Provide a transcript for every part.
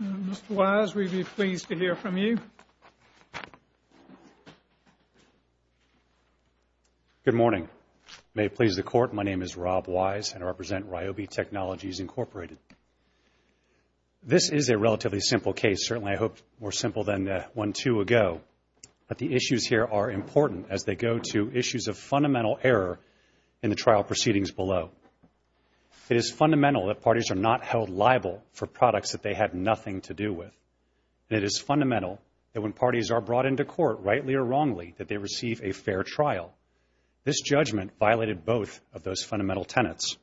Mr. Wise, we'd be pleased to hear from you. Good morning. May it please the Court, my name is Rob Wise and I represent Ryobi Technologies, Inc. This is a relatively simple case, certainly I hope more simple than one or two ago, but the issues here are important as they go to issues of fundamental error in the trial proceedings below. It is fundamental that parties are not held liable for products that they have nothing to do with. And it is fundamental that when parties are brought into court, rightly or wrongly, that they receive a fair trial. This judgment violated both of those fundamental tenets.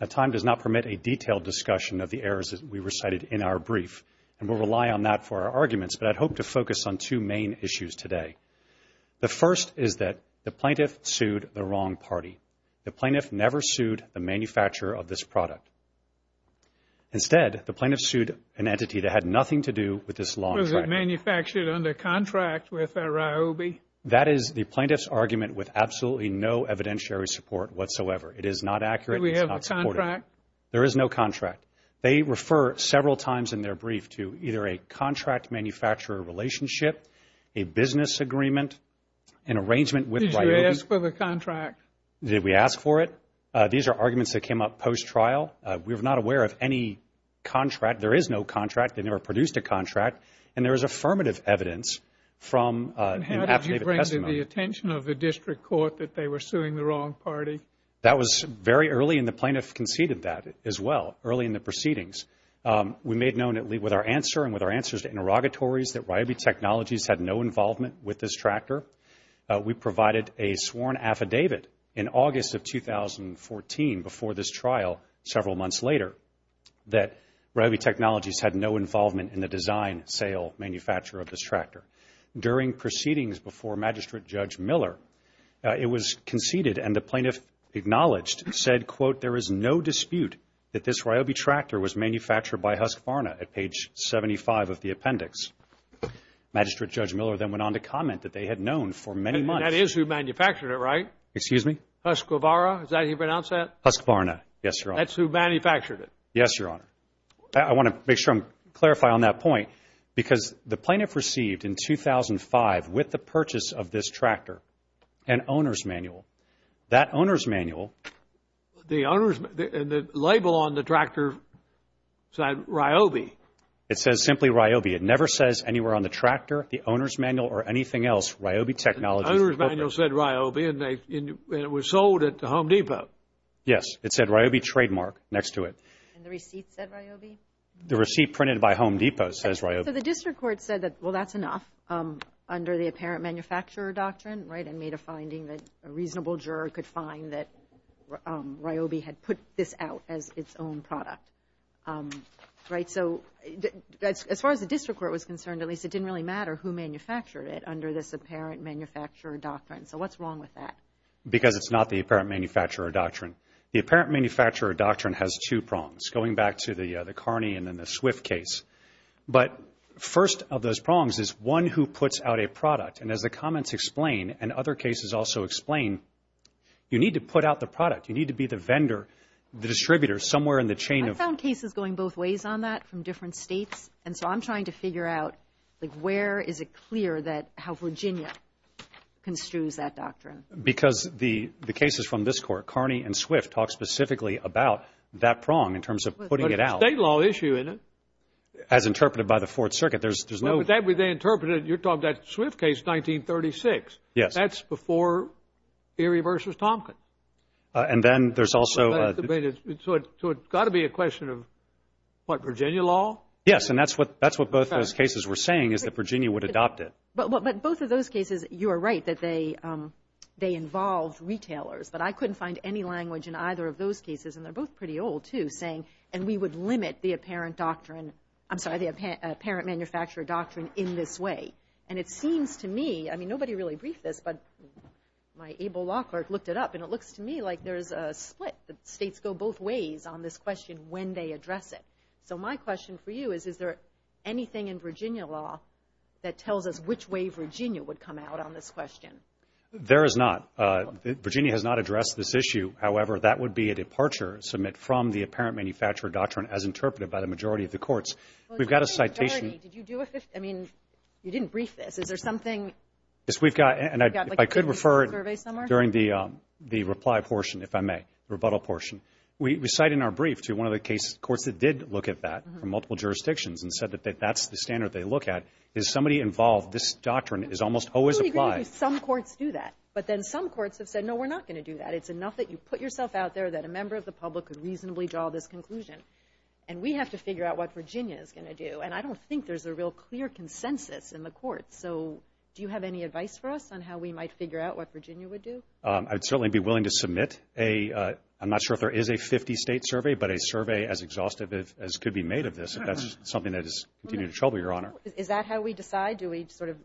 Now time does not permit a detailed discussion of the errors that we recited in our brief and we'll rely on that for our arguments, but I'd hope to focus on two main issues today. The first is that the plaintiff sued the wrong party. The plaintiff never sued the manufacturer of this product. Instead, the plaintiff sued an entity that had nothing to do with this law. Was it manufactured under contract with Ryobi? That is the plaintiff's argument with absolutely no evidentiary support whatsoever. It is not accurate. Did we have a contract? There is no contract. They refer several times in their brief to either a contract-manufacturer relationship, a business agreement, an arrangement with Ryobi. Did you ask for the contract? Did we ask for it? These are arguments that came up post-trial. We're not aware of any contract. There is no contract. They never produced a contract. And there is affirmative evidence from an affidavit testimony. And how did you bring to the attention of the district court that they were suing the wrong party? That was very early, and the plaintiff conceded that as well, early in the proceedings. We made known with our answer and with our answers to interrogatories that Ryobi Technologies had no involvement with this tractor. We provided a sworn affidavit in August of 2014, before this trial several months later, that Ryobi Technologies had no involvement in the design, sale, manufacture of this tractor. During proceedings before Magistrate Judge Miller, it was conceded and the plaintiff acknowledged and said, quote, there is no dispute that this Ryobi tractor was manufactured by Husqvarna at page 75 of the appendix. Magistrate Judge Miller then went on to comment that they had known for many months. That is who manufactured it, right? Excuse me? Husqvarna. Is that how you pronounce that? Husqvarna. Yes, Your Honor. That's who manufactured it? Yes, Your Honor. I want to make sure I clarify on that point, because the plaintiff received in 2005, with the purchase of this tractor, an owner's manual. That owner's manual... The owner's... And the label on the tractor said Ryobi. It says simply Ryobi. It never says anywhere on the tractor, the owner's manual or anything else, Ryobi Technologies. The owner's manual said Ryobi and it was sold at the Home Depot. Yes, it said Ryobi Trademark next to it. And the receipt said Ryobi? The receipt printed by Home Depot says Ryobi. So the district court said that, well, that's enough, under the apparent manufacturer doctrine, right? And made a finding that a reasonable juror could find that Ryobi had put this out as its own product, right? So as far as the district court was concerned, at least it didn't really matter who manufactured it under this apparent manufacturer doctrine. So what's wrong with that? Because it's not the apparent manufacturer doctrine. The apparent manufacturer doctrine has two prongs, going back to the Carney and then the Swift case. But first of those prongs is one who puts out a product. And as the comments explain, and other cases also explain, you need to put out the product. You need to be the vendor, the distributor, somewhere in the chain of... I've found cases going both ways on that from different states. And so I'm trying to figure out, like, where is it clear that how Virginia construes that doctrine? Because the cases from this court, Carney and Swift, talk specifically about that prong in terms of putting it out. But it's a state law issue, isn't it? As interpreted by the Fourth Circuit. There's no... Well, but that way they interpreted it. You're talking about the Swift case, 1936. Yes. That's before Erie v. Tompkins. And then there's also... So it's got to be a question of, what, Virginia law? Yes. And that's what both those cases were saying, is that Virginia would adopt it. But both of those cases, you are right, that they involved retailers. But I couldn't find any language in either of those cases, and they're both pretty old, too, saying, and we would limit the apparent doctrine, I'm sorry, the apparent manufacturer doctrine in this way. And it seems to me, I mean, nobody really briefed this, but my able law clerk looked it up, and it looks to me like there's a split, that states go both ways on this question when they address it. So my question for you is, is there anything in Virginia law that tells us which way Virginia would come out on this question? There is not. Virginia has not addressed this issue. However, that would be a departure, submit from the apparent manufacturer doctrine as interpreted by the majority of the courts. We've got a citation... Well, in what severity did you do a... I mean, you didn't brief this. Is there something... Yes, we've got... You've got like a 50-page survey somewhere? I could refer it during the reply portion, if I may, rebuttal portion. We cite in our brief to one of the case courts that did look at that from multiple jurisdictions and said that that's the standard they look at, is somebody involved, this doctrine is almost always applied. I totally agree with you. Some courts do that. But then some courts have said, no, we're not going to do that. It's enough that you put yourself out there that a member of the public could reasonably draw this conclusion. And we have to figure out what Virginia is going to do. And I don't think there's a real clear consensus in the courts. So do you have any advice for us on how we might figure out what Virginia would do? I'd certainly be willing to submit a... There is a 50-state survey, but a survey as exhaustive as could be made of this, if that's something that is continuing to trouble, Your Honor. Is that how we decide? Do we sort of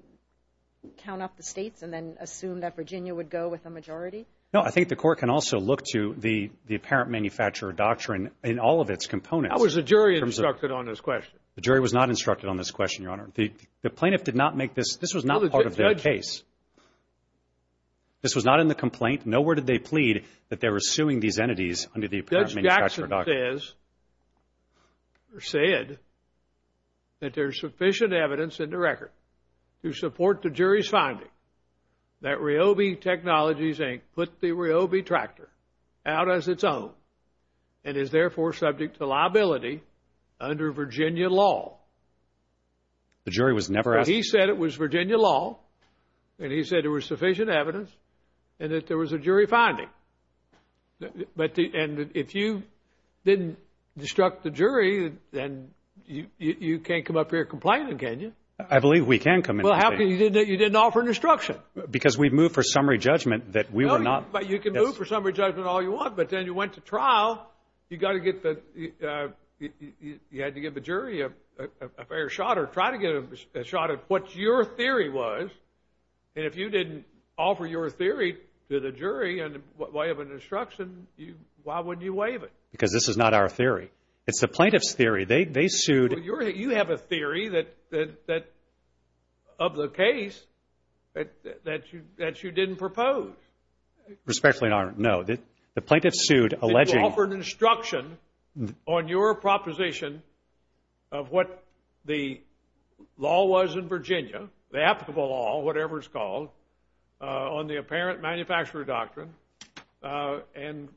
count up the states and then assume that Virginia would go with a majority? No, I think the court can also look to the apparent manufacturer doctrine in all of its components. How was the jury instructed on this question? The jury was not instructed on this question, Your Honor. The plaintiff did not make this... This was not part of their case. This was not in the complaint. Nowhere did they plead that they were suing these entities under the apparent manufacturer doctrine. Judge Jackson says, or said, that there's sufficient evidence in the record to support the jury's finding that Ryobi Technologies, Inc. put the Ryobi tractor out as its own and is therefore subject to liability under Virginia law. The jury was never asked... He said it was Virginia law, and he said there was sufficient evidence, and that there was a jury finding. And if you didn't instruct the jury, then you can't come up here complaining, can you? I believe we can come up here complaining. Well, how come you didn't offer an instruction? Because we've moved for summary judgment that we were not... You can move for summary judgment all you want, but then you went to trial. You got to get the... You had to give the jury a fair shot or try to get a shot at what your theory was, and if you didn't offer your theory to the jury in the way of an instruction, why wouldn't you waive it? Because this is not our theory. It's the plaintiff's theory. They sued... Well, you have a theory of the case that you didn't propose. Respectfully, no. The plaintiff sued alleging... You offered instruction on your proposition of what the law was in Virginia, the applicable law, whatever it's called, on the apparent manufacturer doctrine, and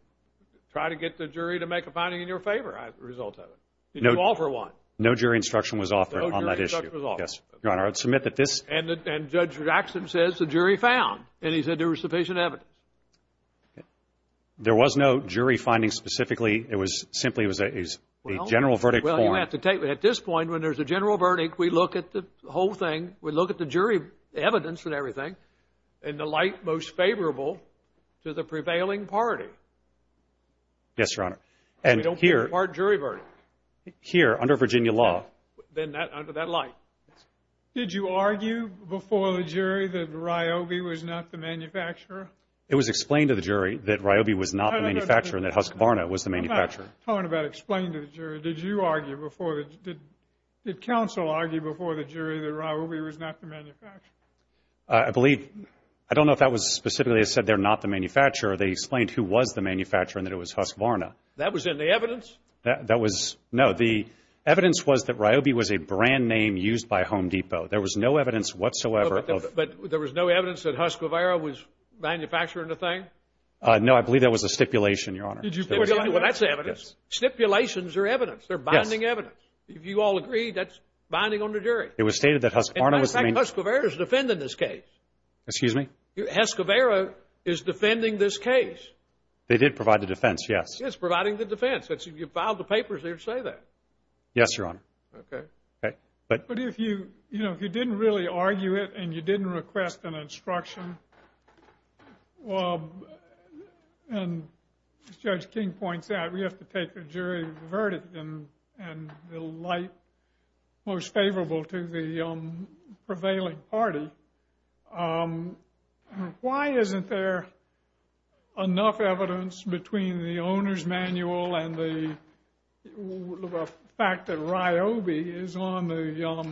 tried to get the jury to make a finding in your favor as a result of it. Did you offer one? No jury instruction was offered on that issue. No jury instruction was offered. Yes, Your Honor. I would submit that this... And Judge Jackson says the jury found, and he said there was sufficient evidence. There was no jury finding specifically. It was simply... It was a general verdict form. Well, you have to take... At this point, when there's a general verdict, we look at the whole thing. We look at the jury evidence and everything, and the light most favorable to the prevailing party. Yes, Your Honor. And here... We don't give a part jury verdict. Here, under Virginia law... Then that... Under that light. Did you argue before the jury that Ryobi was not the manufacturer? It was explained to the jury that Ryobi was not the manufacturer and that Husqvarna was the manufacturer. I'm not talking about explained to the jury. Did you argue before the... Did counsel argue before the jury that Ryobi was not the manufacturer? I believe... I don't know if that was specifically said they're not the manufacturer. They explained who was the manufacturer and that it was Husqvarna. That was in the evidence? That was... No. The evidence was that Ryobi was a brand name used by Home Depot. There was no evidence whatsoever of... But there was no evidence that Husqvarna was manufacturing the thing? No. I believe that was a stipulation, Your Honor. Did you stipulate? Well, that's evidence. Stipulations are evidence. They're binding evidence. Yes. If you all agree, that's binding on the jury. It was stated that Husqvarna was the main... In fact, Husqvarna is defending this case. Excuse me? Husqvarna is defending this case. They did provide the defense. Yes. It's providing the defense. If you filed the papers, they would say that. Yes, Your Honor. Okay. Okay. But... But if you... We have to take the case to the jury. We have to take the case to the jury. We have to take the case to the jury. We have to take the jury to the verdict and the light most favorable to the prevailing party. Why isn't there enough evidence between the owner's manual and the fact that Ryobi is on the...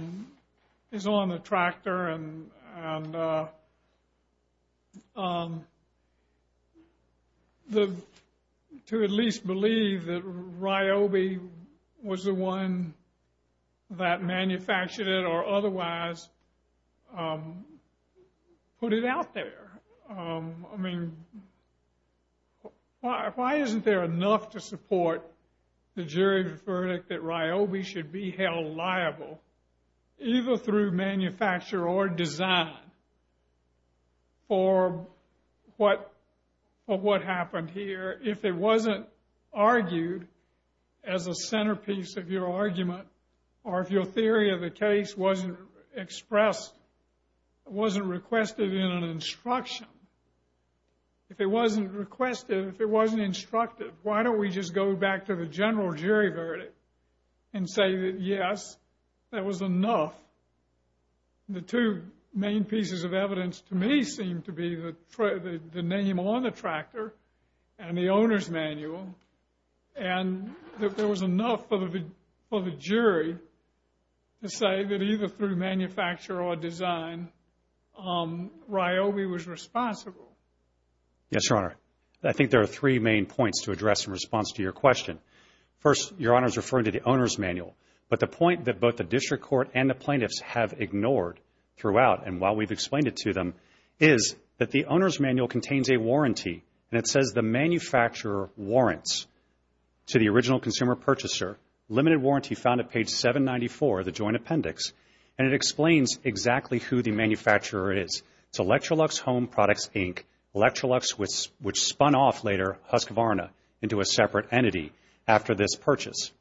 is on the tractor and to at least believe that Ryobi was the one that manufactured it or otherwise put it out there? I mean, why isn't there enough to support the jury's verdict that Ryobi should be held liable either through manufacture or design for what happened here if it wasn't argued as a centerpiece of your argument or if your theory of the case wasn't expressed, wasn't requested in an instruction? If it wasn't requested, if it wasn't instructed, why don't we just go back to the general jury verdict and say that, yes, that was enough. The two main pieces of evidence to me seem to be the name on the tractor and the owner's manual and that there was enough for the jury to say that either through manufacture or design Ryobi was responsible. Yes, Your Honor. I think there are three main points to address in response to your question. First, Your Honor is referring to the owner's manual, but the point that both the district court and the plaintiffs have ignored throughout and while we've explained it to them is that the owner's manual contains a warranty and it says the manufacturer warrants to the original consumer purchaser, limited warranty found at page 794 of the joint appendix, and it explains exactly who the manufacturer is. It's Electrolux Home Products, Inc., Electrolux which spun off later Husqvarna into a separate entity after this purchase.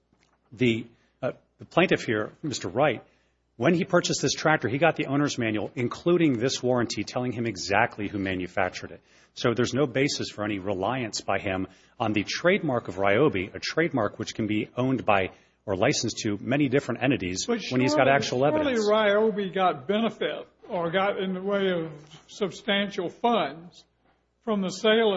The plaintiff here, Mr. Wright, when he purchased this tractor, he got the owner's manual including this warranty telling him exactly who manufactured it. So there's no basis for any reliance by him on the trademark of Ryobi, a trademark which can be owned by or licensed to many different entities when he's got actual evidence. So only Ryobi got benefit or got in the way of substantial funds from the sale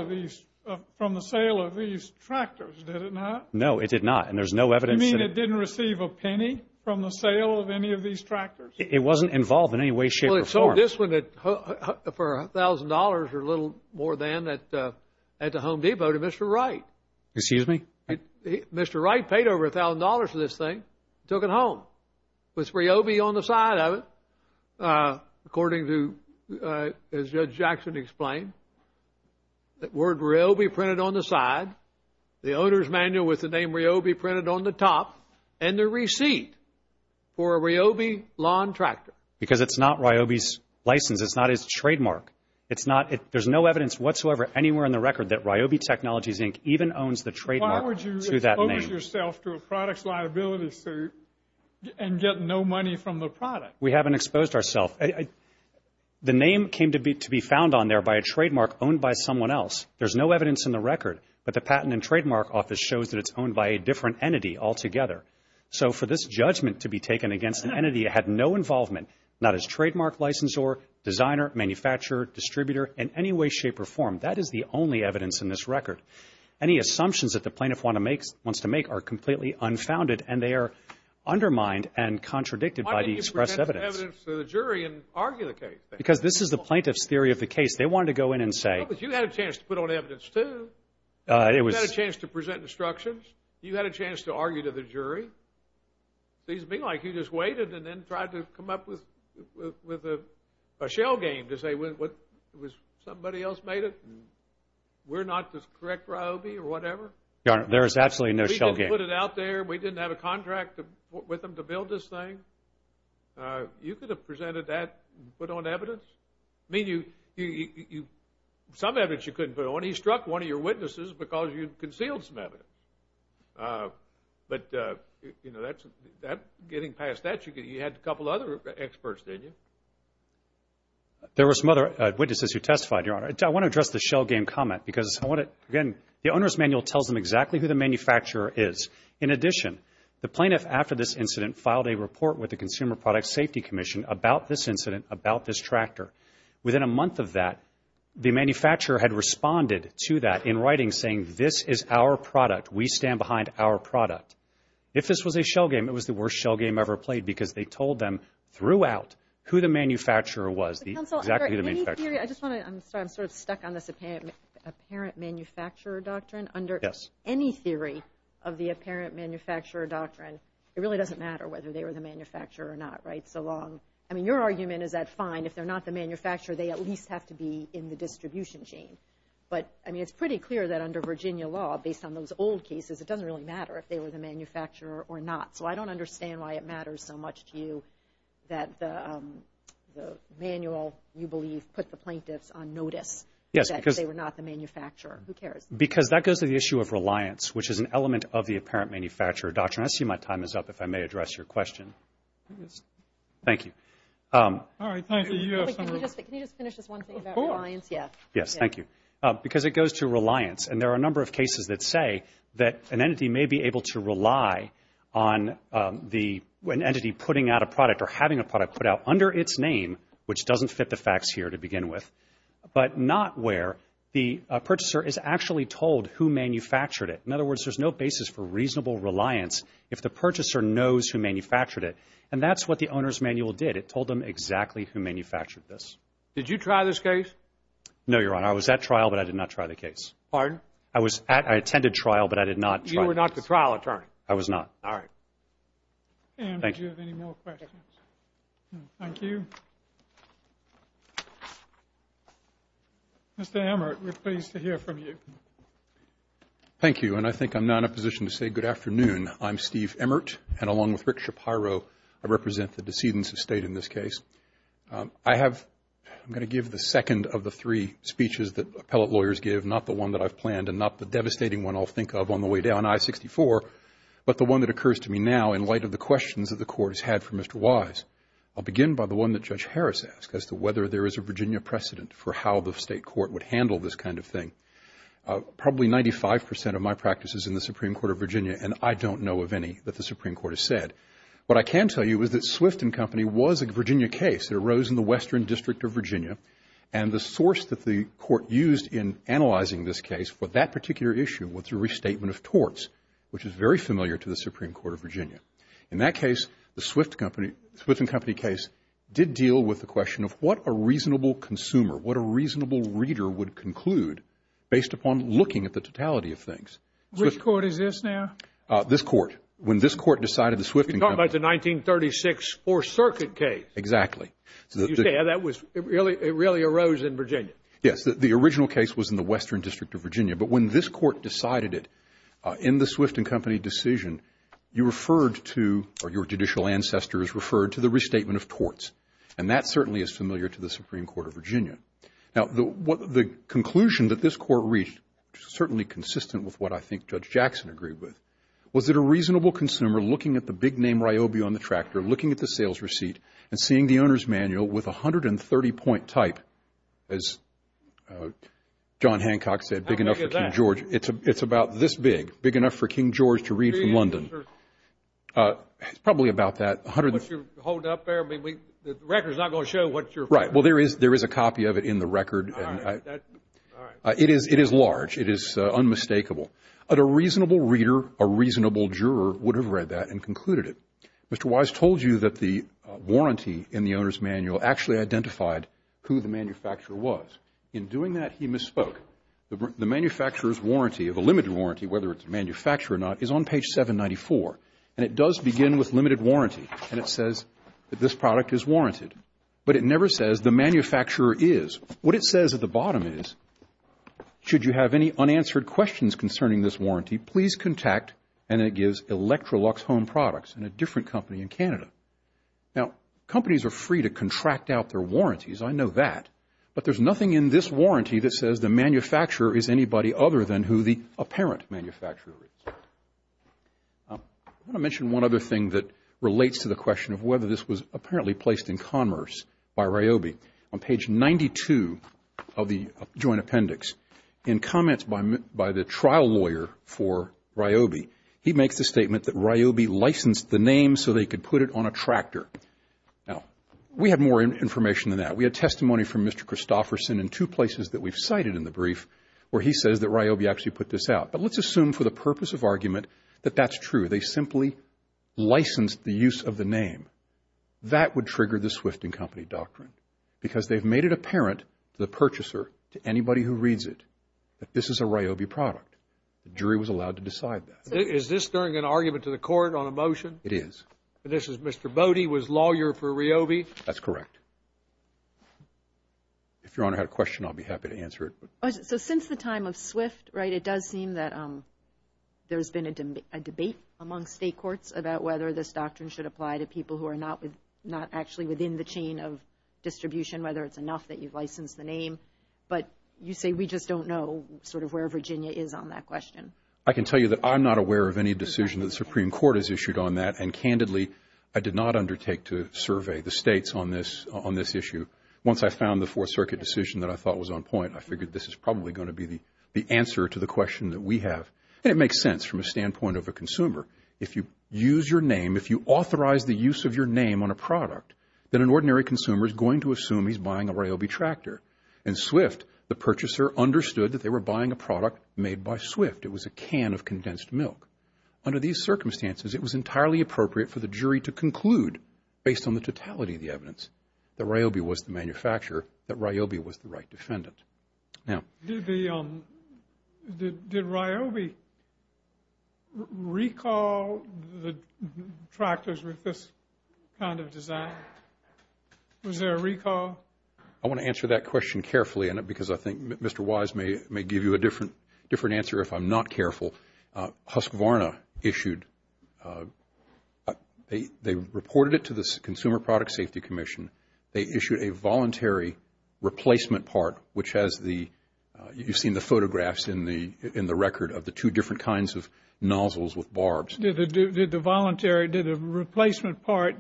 of these tractors, did it not? No, it did not, and there's no evidence. You mean it didn't receive a penny from the sale of any of these tractors? It wasn't involved in any way, shape, or form. Well, it sold this one for $1,000 or a little more than at the Home Depot to Mr. Wright. Excuse me? Mr. Wright paid over $1,000 for this thing and took it home with Ryobi on the side of it according to, as Judge Jackson explained, the word Ryobi printed on the side, the owner's manual with the name Ryobi printed on the top, and the receipt for a Ryobi lawn tractor. Because it's not Ryobi's license. It's not his trademark. There's no evidence whatsoever anywhere in the record that Ryobi Technologies, Inc. even owns the trademark to that name. Why would you expose yourself to a product's liability suit and get no money from the product? We haven't exposed ourself. The name came to be found on there by a trademark owned by someone else. There's no evidence in the record, but the Patent and Trademark Office shows that it's owned by a different entity altogether. So for this judgment to be taken against an entity that had no involvement, not as trademark licensor, designer, manufacturer, distributor, in any way, shape, or form, that is the only evidence in this record. Any assumptions that the plaintiff wants to make are completely unfounded, and they are undermined and contradicted by the expressed evidence. Why didn't you present evidence to the jury and argue the case? Because this is the plaintiff's theory of the case. They wanted to go in and say... Well, but you had a chance to put on evidence, too. You had a chance to present instructions. You had a chance to argue to the jury. Seems to me like you just waited and then tried to come up with a shell game to say, somebody else made it, and we're not the correct RYOBI or whatever. Your Honor, there is absolutely no shell game. We didn't put it out there. We didn't have a contract with them to build this thing. You could have presented that and put on evidence. I mean, some evidence you couldn't put on. He struck one of your witnesses because you concealed some evidence. But, you know, getting past that, you had a couple other experts, didn't you? There were some other witnesses who testified, Your Honor. I want to address the shell game comment because, again, the owner's manual tells them exactly who the manufacturer is. In addition, the plaintiff, after this incident, filed a report with the Consumer Product Safety Commission about this incident, about this tractor. Within a month of that, the manufacturer had responded to that in writing, saying this is our product. We stand behind our product. If this was a shell game, it was the worst shell game ever played because they told them throughout who the manufacturer was, exactly who the manufacturer was. I'm sorry, I'm sort of stuck on this apparent manufacturer doctrine. Under any theory of the apparent manufacturer doctrine, it really doesn't matter whether they were the manufacturer or not, right? I mean, your argument is that fine. If they're not the manufacturer, they at least have to be in the distribution chain. But, I mean, it's pretty clear that under Virginia law, based on those old cases, it doesn't really matter if they were the manufacturer or not. So I don't understand why it matters so much to you that the manual, you believe, put the plaintiffs on notice that they were not the manufacturer. Who cares? Because that goes to the issue of reliance, which is an element of the apparent manufacturer doctrine. I see my time is up, if I may address your question. Thank you. All right, thank you. Can you just finish this one thing about reliance? Yeah. Yes, thank you. Because it goes to reliance, and there are a number of cases that say that an entity may be able to rely on an entity putting out a product or having a product put out under its name, which doesn't fit the facts here to begin with, but not where the purchaser is actually told who manufactured it. In other words, there's no basis for reasonable reliance if the purchaser knows who manufactured it. And that's what the owner's manual did. It told them exactly who manufactured this. Did you try this case? No, Your Honor. I was at trial, but I did not try the case. Pardon? I attended trial, but I did not try the case. You were not the trial attorney? I was not. All right. Thank you. Any more questions? Thank you. Mr. Emmert, we're pleased to hear from you. Thank you, and I think I'm now in a position to say good afternoon. I'm Steve Emmert, and along with Rick Shapiro, I represent the decedents of state in this case. I'm going to give the second of the three speeches that appellate lawyers give, not the one that I've planned and not the devastating one I'll think of on the way down, I-64, but the one that occurs to me now in light of the questions that the Court has had for Mr. Wise. I'll begin by the one that Judge Harris asked, as to whether there is a Virginia precedent for how the state court would handle this kind of thing. Probably 95 percent of my practice is in the Supreme Court of Virginia, and I don't know of any that the Supreme Court has said. What I can tell you is that Swift & Company was a Virginia case that arose in the Western District of Virginia, and the source that the Court used in analyzing this case for that particular issue was the restatement of torts, which is very familiar to the Supreme Court of Virginia. In that case, the Swift & Company case did deal with the question of what a reasonable consumer, what a reasonable reader would conclude based upon looking at the totality of things. Which court is this now? This court. When this court decided the Swift & Company. You're talking about the 1936 Fourth Circuit case. Exactly. Yeah, that was, it really arose in Virginia. Yes, the original case was in the Western District of Virginia, but when this court decided it in the Swift & Company decision, you referred to, or your judicial ancestors referred to the restatement of torts, and that certainly is familiar to the Supreme Court of Virginia. Now, the conclusion that this court reached, certainly consistent with what I think Judge Jackson agreed with, was that a reasonable consumer looking at the big name Ryobi on the tractor, looking at the sales receipt, and seeing the owner's manual with a 130-point type, as John Hancock said, big enough for King George. How big is that? It's about this big, big enough for King George to read from London. It's probably about that, 100. What you're holding up there, the record is not going to show what you're. Right. Well, there is a copy of it in the record. All right. It is large. It is unmistakable. But a reasonable reader, a reasonable juror would have read that and concluded it. Mr. Wise told you that the warranty in the owner's manual actually identified who the manufacturer was. In doing that, he misspoke. The manufacturer's warranty, or the limited warranty, whether it's a manufacturer or not, is on page 794. And it does begin with limited warranty. And it says that this product is warranted. But it never says the manufacturer is. What it says at the bottom is, should you have any unanswered questions concerning this warranty, please contact, and it gives Electrolux Home Products and a different company in Canada. Now, companies are free to contract out their warranties. I know that. But there's nothing in this warranty that says the manufacturer is anybody other than who the apparent manufacturer is. I want to mention one other thing that relates to the question of whether this was apparently placed in commerce by Ryobi. On page 92 of the Joint Appendix, in comments by the trial lawyer for Ryobi, he makes the statement that Ryobi licensed the name so they could put it on a tractor. Now, we have more information than that. We have testimony from Mr. Christofferson in two places that we've cited in the brief where he says that Ryobi actually put this out. But let's assume for the purpose of argument that that's true. They simply licensed the use of the name. That would trigger the Swift & Company Doctrine because they've made it apparent to the purchaser, to anybody who reads it, that this is a Ryobi product. The jury was allowed to decide that. Is this during an argument to the court on a motion? It is. And this is Mr. Bode was lawyer for Ryobi? That's correct. If Your Honor had a question, I'll be happy to answer it. So since the time of Swift, right, it does seem that there's been a debate among state courts about whether this doctrine should apply to people who are not actually within the chain of distribution, whether it's enough that you've licensed the name. But you say we just don't know sort of where Virginia is on that question. I can tell you that I'm not aware of any decision that the Supreme Court has issued on that. And, candidly, I did not undertake to survey the states on this issue. Once I found the Fourth Circuit decision that I thought was on point, I figured this is probably going to be the answer to the question that we have. And it makes sense from a standpoint of a consumer. If you use your name, if you authorize the use of your name on a product, then an ordinary consumer is going to assume he's buying a Ryobi tractor. In Swift, the purchaser understood that they were buying a product made by Swift. It was a can of condensed milk. Under these circumstances, it was entirely appropriate for the jury to conclude, based on the totality of the evidence, that Ryobi was the manufacturer, that Ryobi was the right defendant. Did Ryobi recall the tractors with this kind of design? Was there a recall? I want to answer that question carefully, because I think Mr. Wise may give you a different answer if I'm not careful. Husqvarna reported it to the Consumer Product Safety Commission. They issued a voluntary replacement part, which has the – you've seen the photographs in the record of the two different kinds of nozzles with barbs. Did the voluntary – did the replacement part,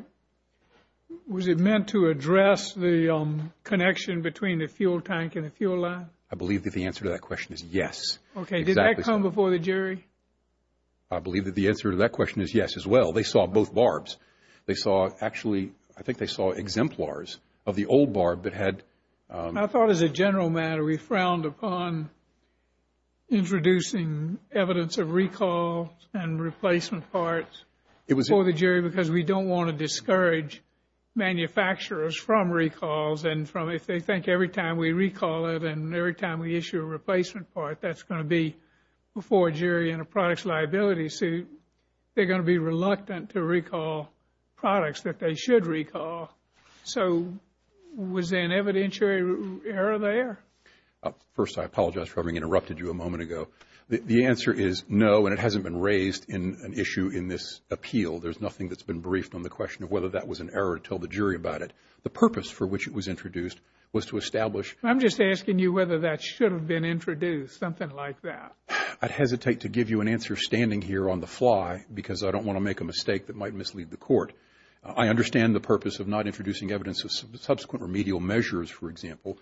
was it meant to address the connection between the fuel tank and the fuel line? I believe that the answer to that question is yes. Okay. Did that come before the jury? I believe that the answer to that question is yes as well. They saw both barbs. They saw actually – I think they saw exemplars of the old barb that had – I thought as a general matter we frowned upon introducing evidence of recall and replacement parts before the jury because we don't want to discourage manufacturers from recalls and from if they think every time we recall it and every time we issue a replacement part, that's going to be before a jury in a product's liability suit. They're going to be reluctant to recall products that they should recall. So was there an evidentiary error there? First, I apologize for having interrupted you a moment ago. The answer is no, and it hasn't been raised in an issue in this appeal. There's nothing that's been briefed on the question of whether that was an error to tell the jury about it. The purpose for which it was introduced was to establish – I'm just asking you whether that should have been introduced, something like that. I'd hesitate to give you an answer standing here on the fly because I don't want to make a mistake that might mislead the court. I understand the purpose of not introducing evidence of subsequent remedial measures, for example.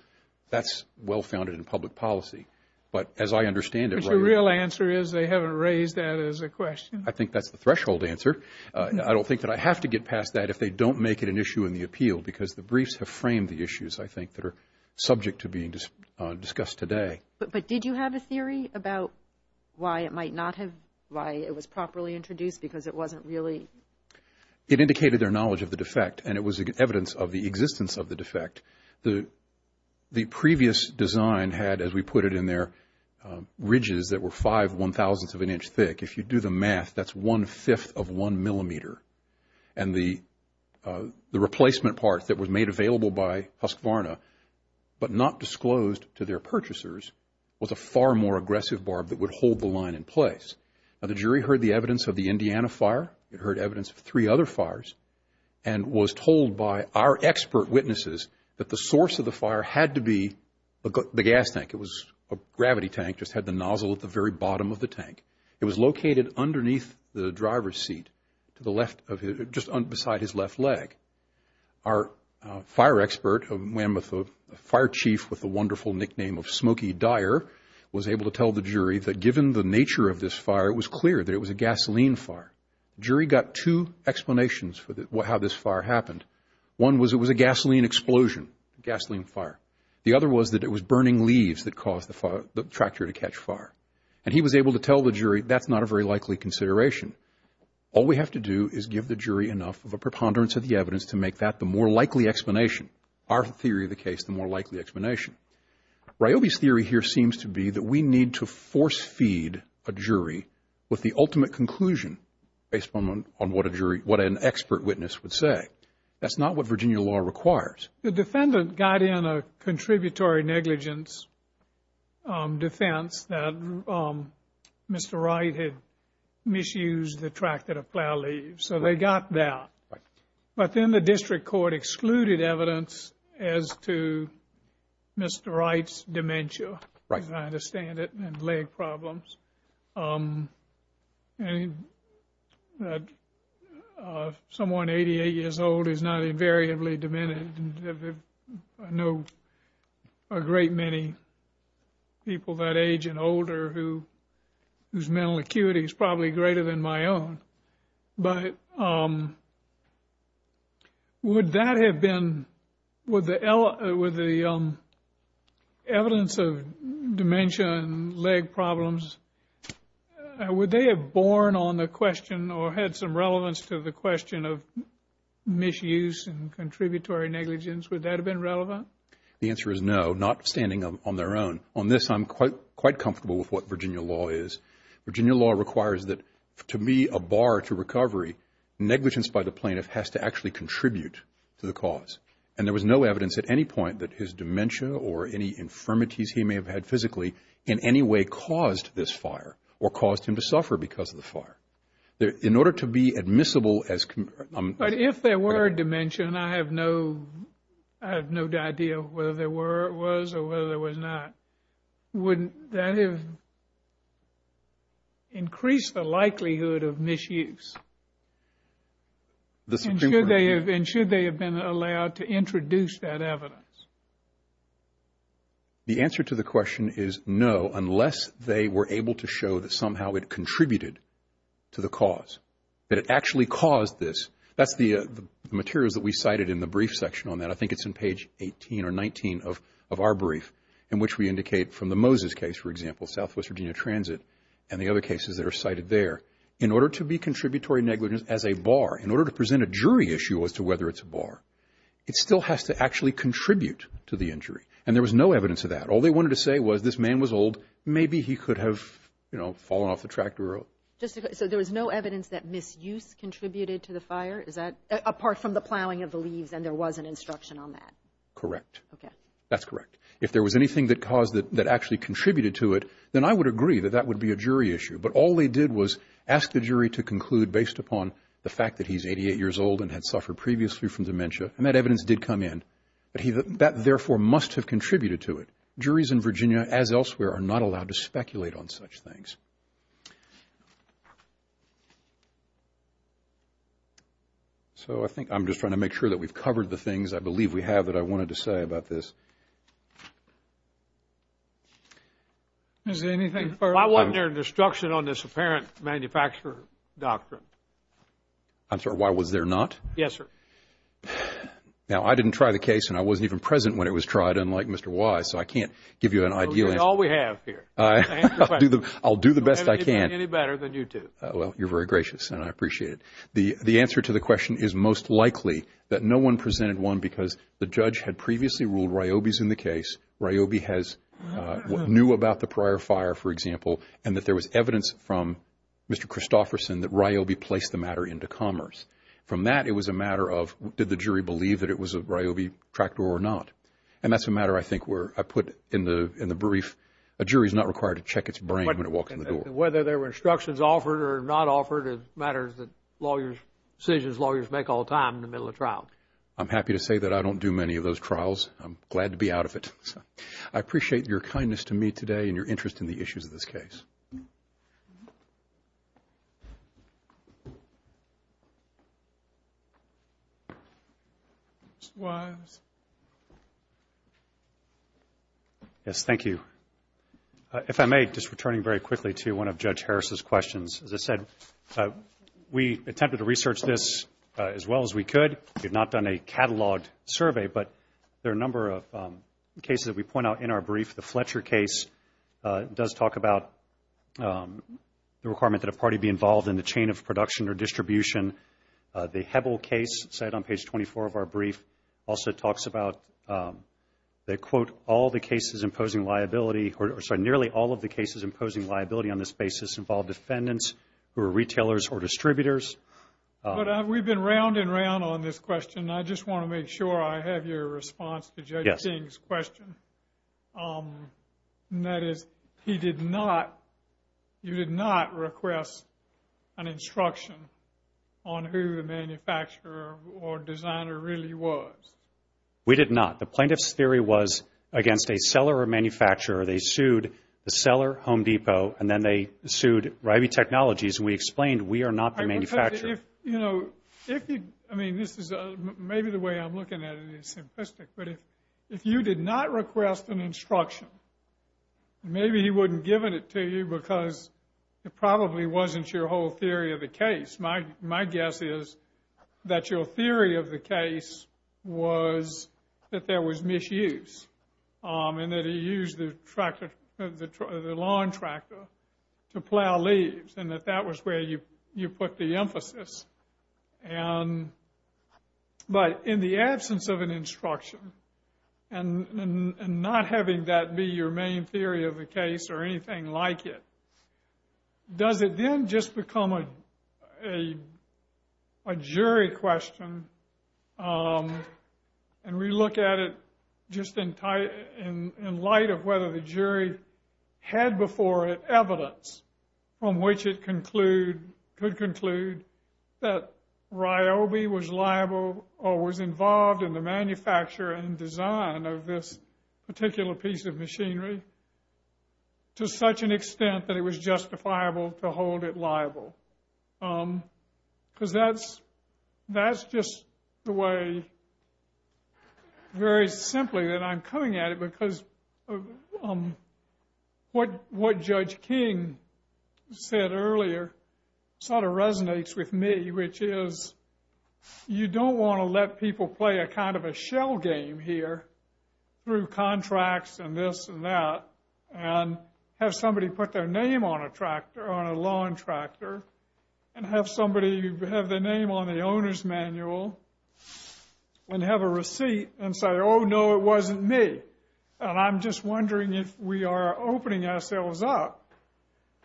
That's well-founded in public policy. But as I understand it right now – But your real answer is they haven't raised that as a question. I think that's the threshold answer. I don't think that I have to get past that if they don't make it an issue in the appeal because the briefs have framed the issues, I think, that are subject to being discussed today. But did you have a theory about why it might not have – why it was properly introduced because it wasn't really – It indicated their knowledge of the defect, and it was evidence of the existence of the defect. The previous design had, as we put it in there, ridges that were five one-thousandths of an inch thick. If you do the math, that's one-fifth of one millimeter. And the replacement part that was made available by Husqvarna but not disclosed to their purchasers was a far more aggressive barb that would hold the line in place. Now, the jury heard the evidence of the Indiana fire. It heard evidence of three other fires and was told by our expert witnesses that the source of the fire had to be the gas tank. It was a gravity tank, just had the nozzle at the very bottom of the tank. It was located underneath the driver's seat to the left of – just beside his left leg. Our fire expert, a fire chief with the wonderful nickname of Smokey Dyer, was able to tell the jury that given the nature of this fire, it was clear that it was a gasoline fire. The jury got two explanations for how this fire happened. One was it was a gasoline explosion, a gasoline fire. The other was that it was burning leaves that caused the fire – the tractor to catch fire. And he was able to tell the jury that's not a very likely consideration. All we have to do is give the jury enough of a preponderance of the evidence to make that the more likely explanation. Our theory of the case, the more likely explanation. Ryobi's theory here seems to be that we need to force-feed a jury with the ultimate conclusion based on what a jury – what an expert witness would say. That's not what Virginia law requires. The defendant got in a contributory negligence defense that Mr. Wright had misused the tractor to plow leaves. So they got that. But then the district court excluded evidence as to Mr. Wright's dementia, as I understand it, and leg problems. And someone 88 years old is not invariably demented. I know a great many people that age and older whose mental acuity is probably greater than my own. But would that have been – with the evidence of dementia and leg problems, would they have borne on the question or had some relevance to the question of misuse and contributory negligence? Would that have been relevant? The answer is no, not standing on their own. On this, I'm quite comfortable with what Virginia law is. Virginia law requires that to be a bar to recovery, negligence by the plaintiff has to actually contribute to the cause. And there was no evidence at any point that his dementia or any infirmities he may have had physically in any way caused this fire or caused him to suffer because of the fire. In order to be admissible as – But if there were dementia, and I have no idea whether there was or whether there was not, would that have increased the likelihood of misuse? And should they have been allowed to introduce that evidence? The answer to the question is no, unless they were able to show that somehow it contributed to the cause, that it actually caused this. That's the materials that we cited in the brief section on that. I think it's on page 18 or 19 of our brief in which we indicate from the Moses case, for example, Southwest Virginia Transit and the other cases that are cited there, in order to be contributory negligence as a bar, in order to present a jury issue as to whether it's a bar, it still has to actually contribute to the injury. And there was no evidence of that. All they wanted to say was this man was old. Maybe he could have, you know, fallen off the tractor. So there was no evidence that misuse contributed to the fire? Apart from the plowing of the leaves and there was an instruction on that? Correct. Okay. That's correct. If there was anything that caused it that actually contributed to it, then I would agree that that would be a jury issue. But all they did was ask the jury to conclude based upon the fact that he's 88 years old and had suffered previously from dementia, and that evidence did come in. That, therefore, must have contributed to it. Juries in Virginia, as elsewhere, are not allowed to speculate on such things. So I think I'm just trying to make sure that we've covered the things I believe we have that I wanted to say about this. Is there anything further? Why wasn't there an instruction on this apparent manufacturer doctrine? I'm sorry, why was there not? Yes, sir. Now, I didn't try the case, and I wasn't even present when it was tried, unlike Mr. Wise. So I can't give you an ideal answer. Well, you're all we have here. Answer the question. I'll do the best I can. We haven't been any better than you two. Well, you're very gracious, and I appreciate it. The answer to the question is most likely that no one presented one because the judge had previously ruled Ryobi's in the case. Ryobi knew about the prior fire, for example, and that there was evidence from Mr. Christofferson that Ryobi placed the matter into commerce. From that, it was a matter of did the jury believe that it was a Ryobi tractor or not? And that's a matter, I think, where I put in the brief a jury is not required to check its brain when it walks in the door. Whether there were instructions offered or not offered, it matters that decisions lawyers make all the time in the middle of trial. I'm happy to say that I don't do many of those trials. I'm glad to be out of it. I appreciate your kindness to me today and your interest in the issues of this case. Thank you. Mr. Wiles. Yes, thank you. If I may, just returning very quickly to one of Judge Harris's questions. As I said, we attempted to research this as well as we could. We have not done a cataloged survey, but there are a number of cases that we point out in our brief. The Fletcher case does talk about the requirement that a party be involved in the chain of production or distribution. The Hebel case, cited on page 24 of our brief, also talks about that, quote, nearly all of the cases imposing liability on this basis involve defendants who are retailers or distributors. But we've been round and round on this question. I just want to make sure I have your response to Judge King's question. That is, he did not, you did not request an instruction on who the manufacturer or designer really was. We did not. The plaintiff's theory was against a seller or manufacturer. They sued the seller, Home Depot, and then they sued Ryvie Technologies. We explained we are not the manufacturer. I mean, maybe the way I'm looking at it is simplistic, but if you did not request an instruction, maybe he wouldn't have given it to you because it probably wasn't your whole theory of the case. My guess is that your theory of the case was that there was misuse and that he used the lawn tractor to plow leaves and that that was where you put the emphasis. But in the absence of an instruction and not having that be your main theory of the case or anything like it, does it then just become a jury question? And we look at it just in light of whether the jury had before it evidence from which it could conclude that Ryvie was liable or was involved in the manufacture and design of this particular piece of machinery to such an extent that it was justifiable to hold it liable. Because that's just the way, very simply, that I'm coming at it because what Judge King said earlier sort of resonates with me, which is you don't want to let people play a kind of a shell game here through contracts and this and that and have somebody put their name on a tractor, on a lawn tractor, and have somebody have their name on the owner's manual and have a receipt and say, oh, no, it wasn't me. And I'm just wondering if we are opening ourselves up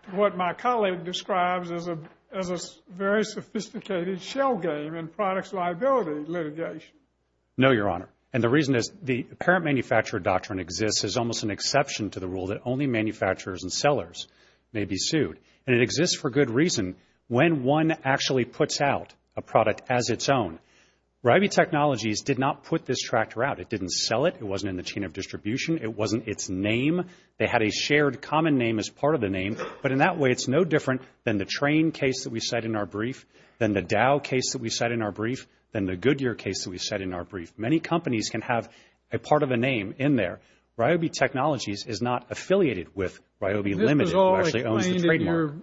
to what my colleague describes as a very sophisticated shell game in products liability litigation. No, Your Honor, and the reason is the parent manufacturer doctrine exists as almost an exception to the rule that only manufacturers and sellers may be sued. And it exists for good reason when one actually puts out a product as its own. Ryvie Technologies did not put this tractor out. It didn't sell it. It wasn't in the chain of distribution. It wasn't its name. They had a shared common name as part of the name, but in that way it's no different than the train case that we said in our brief, than the Dow case that we said in our brief, than the Goodyear case that we said in our brief. Many companies can have a part of a name in there. Ryvie Technologies is not affiliated with Ryvie Limited, who actually owns the trademark.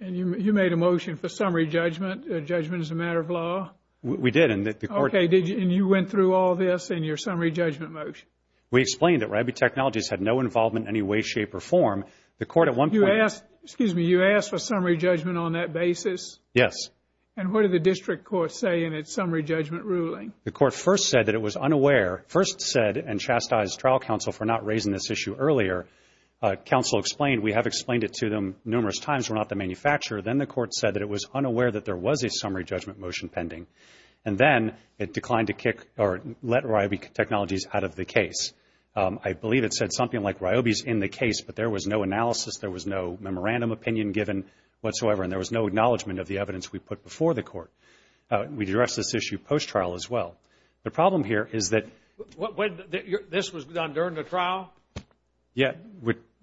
And you made a motion for summary judgment, judgment as a matter of law? We did. Okay, and you went through all this in your summary judgment motion? We explained that Ryvie Technologies had no involvement in any way, shape, or form. The court at one point. Excuse me, you asked for summary judgment on that basis? Yes. And what did the district court say in its summary judgment ruling? The court first said that it was unaware, first said, and chastised trial counsel for not raising this issue earlier. Counsel explained, we have explained it to them numerous times, we're not the manufacturer. Then the court said that it was unaware that there was a summary judgment motion pending. And then it declined to kick or let Ryvie Technologies out of the case. I believe it said something like Ryvie's in the case, but there was no analysis, there was no memorandum opinion given whatsoever, and there was no acknowledgement of the evidence we put before the court. We addressed this issue post-trial as well. The problem here is that. This was done during the trial? Yeah.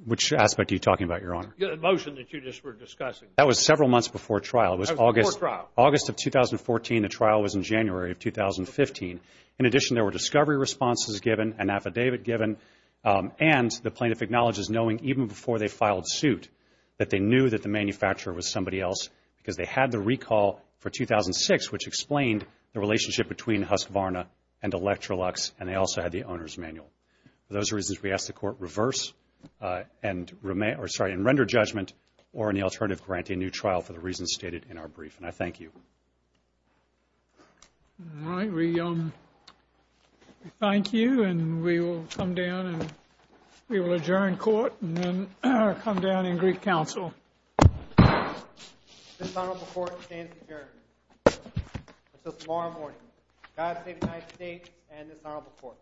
Which aspect are you talking about, Your Honor? The motion that you just were discussing. That was several months before trial. It was August. Before trial. August of 2014. The trial was in January of 2015. In addition, there were discovery responses given, an affidavit given, and the plaintiff acknowledges knowing even before they filed suit that they knew that the manufacturer was somebody else because they had the recall for 2006, which explained the relationship between Husqvarna and Electrolux, and they also had the owner's manual. For those reasons, we ask the court reverse and render judgment or in the alternative grant a new trial for the reasons stated in our brief, and I thank you. All right. We thank you, and we will come down and we will adjourn court and then come down in Greek Council. This honorable court stands adjourned until tomorrow morning. God save the United States and this honorable court.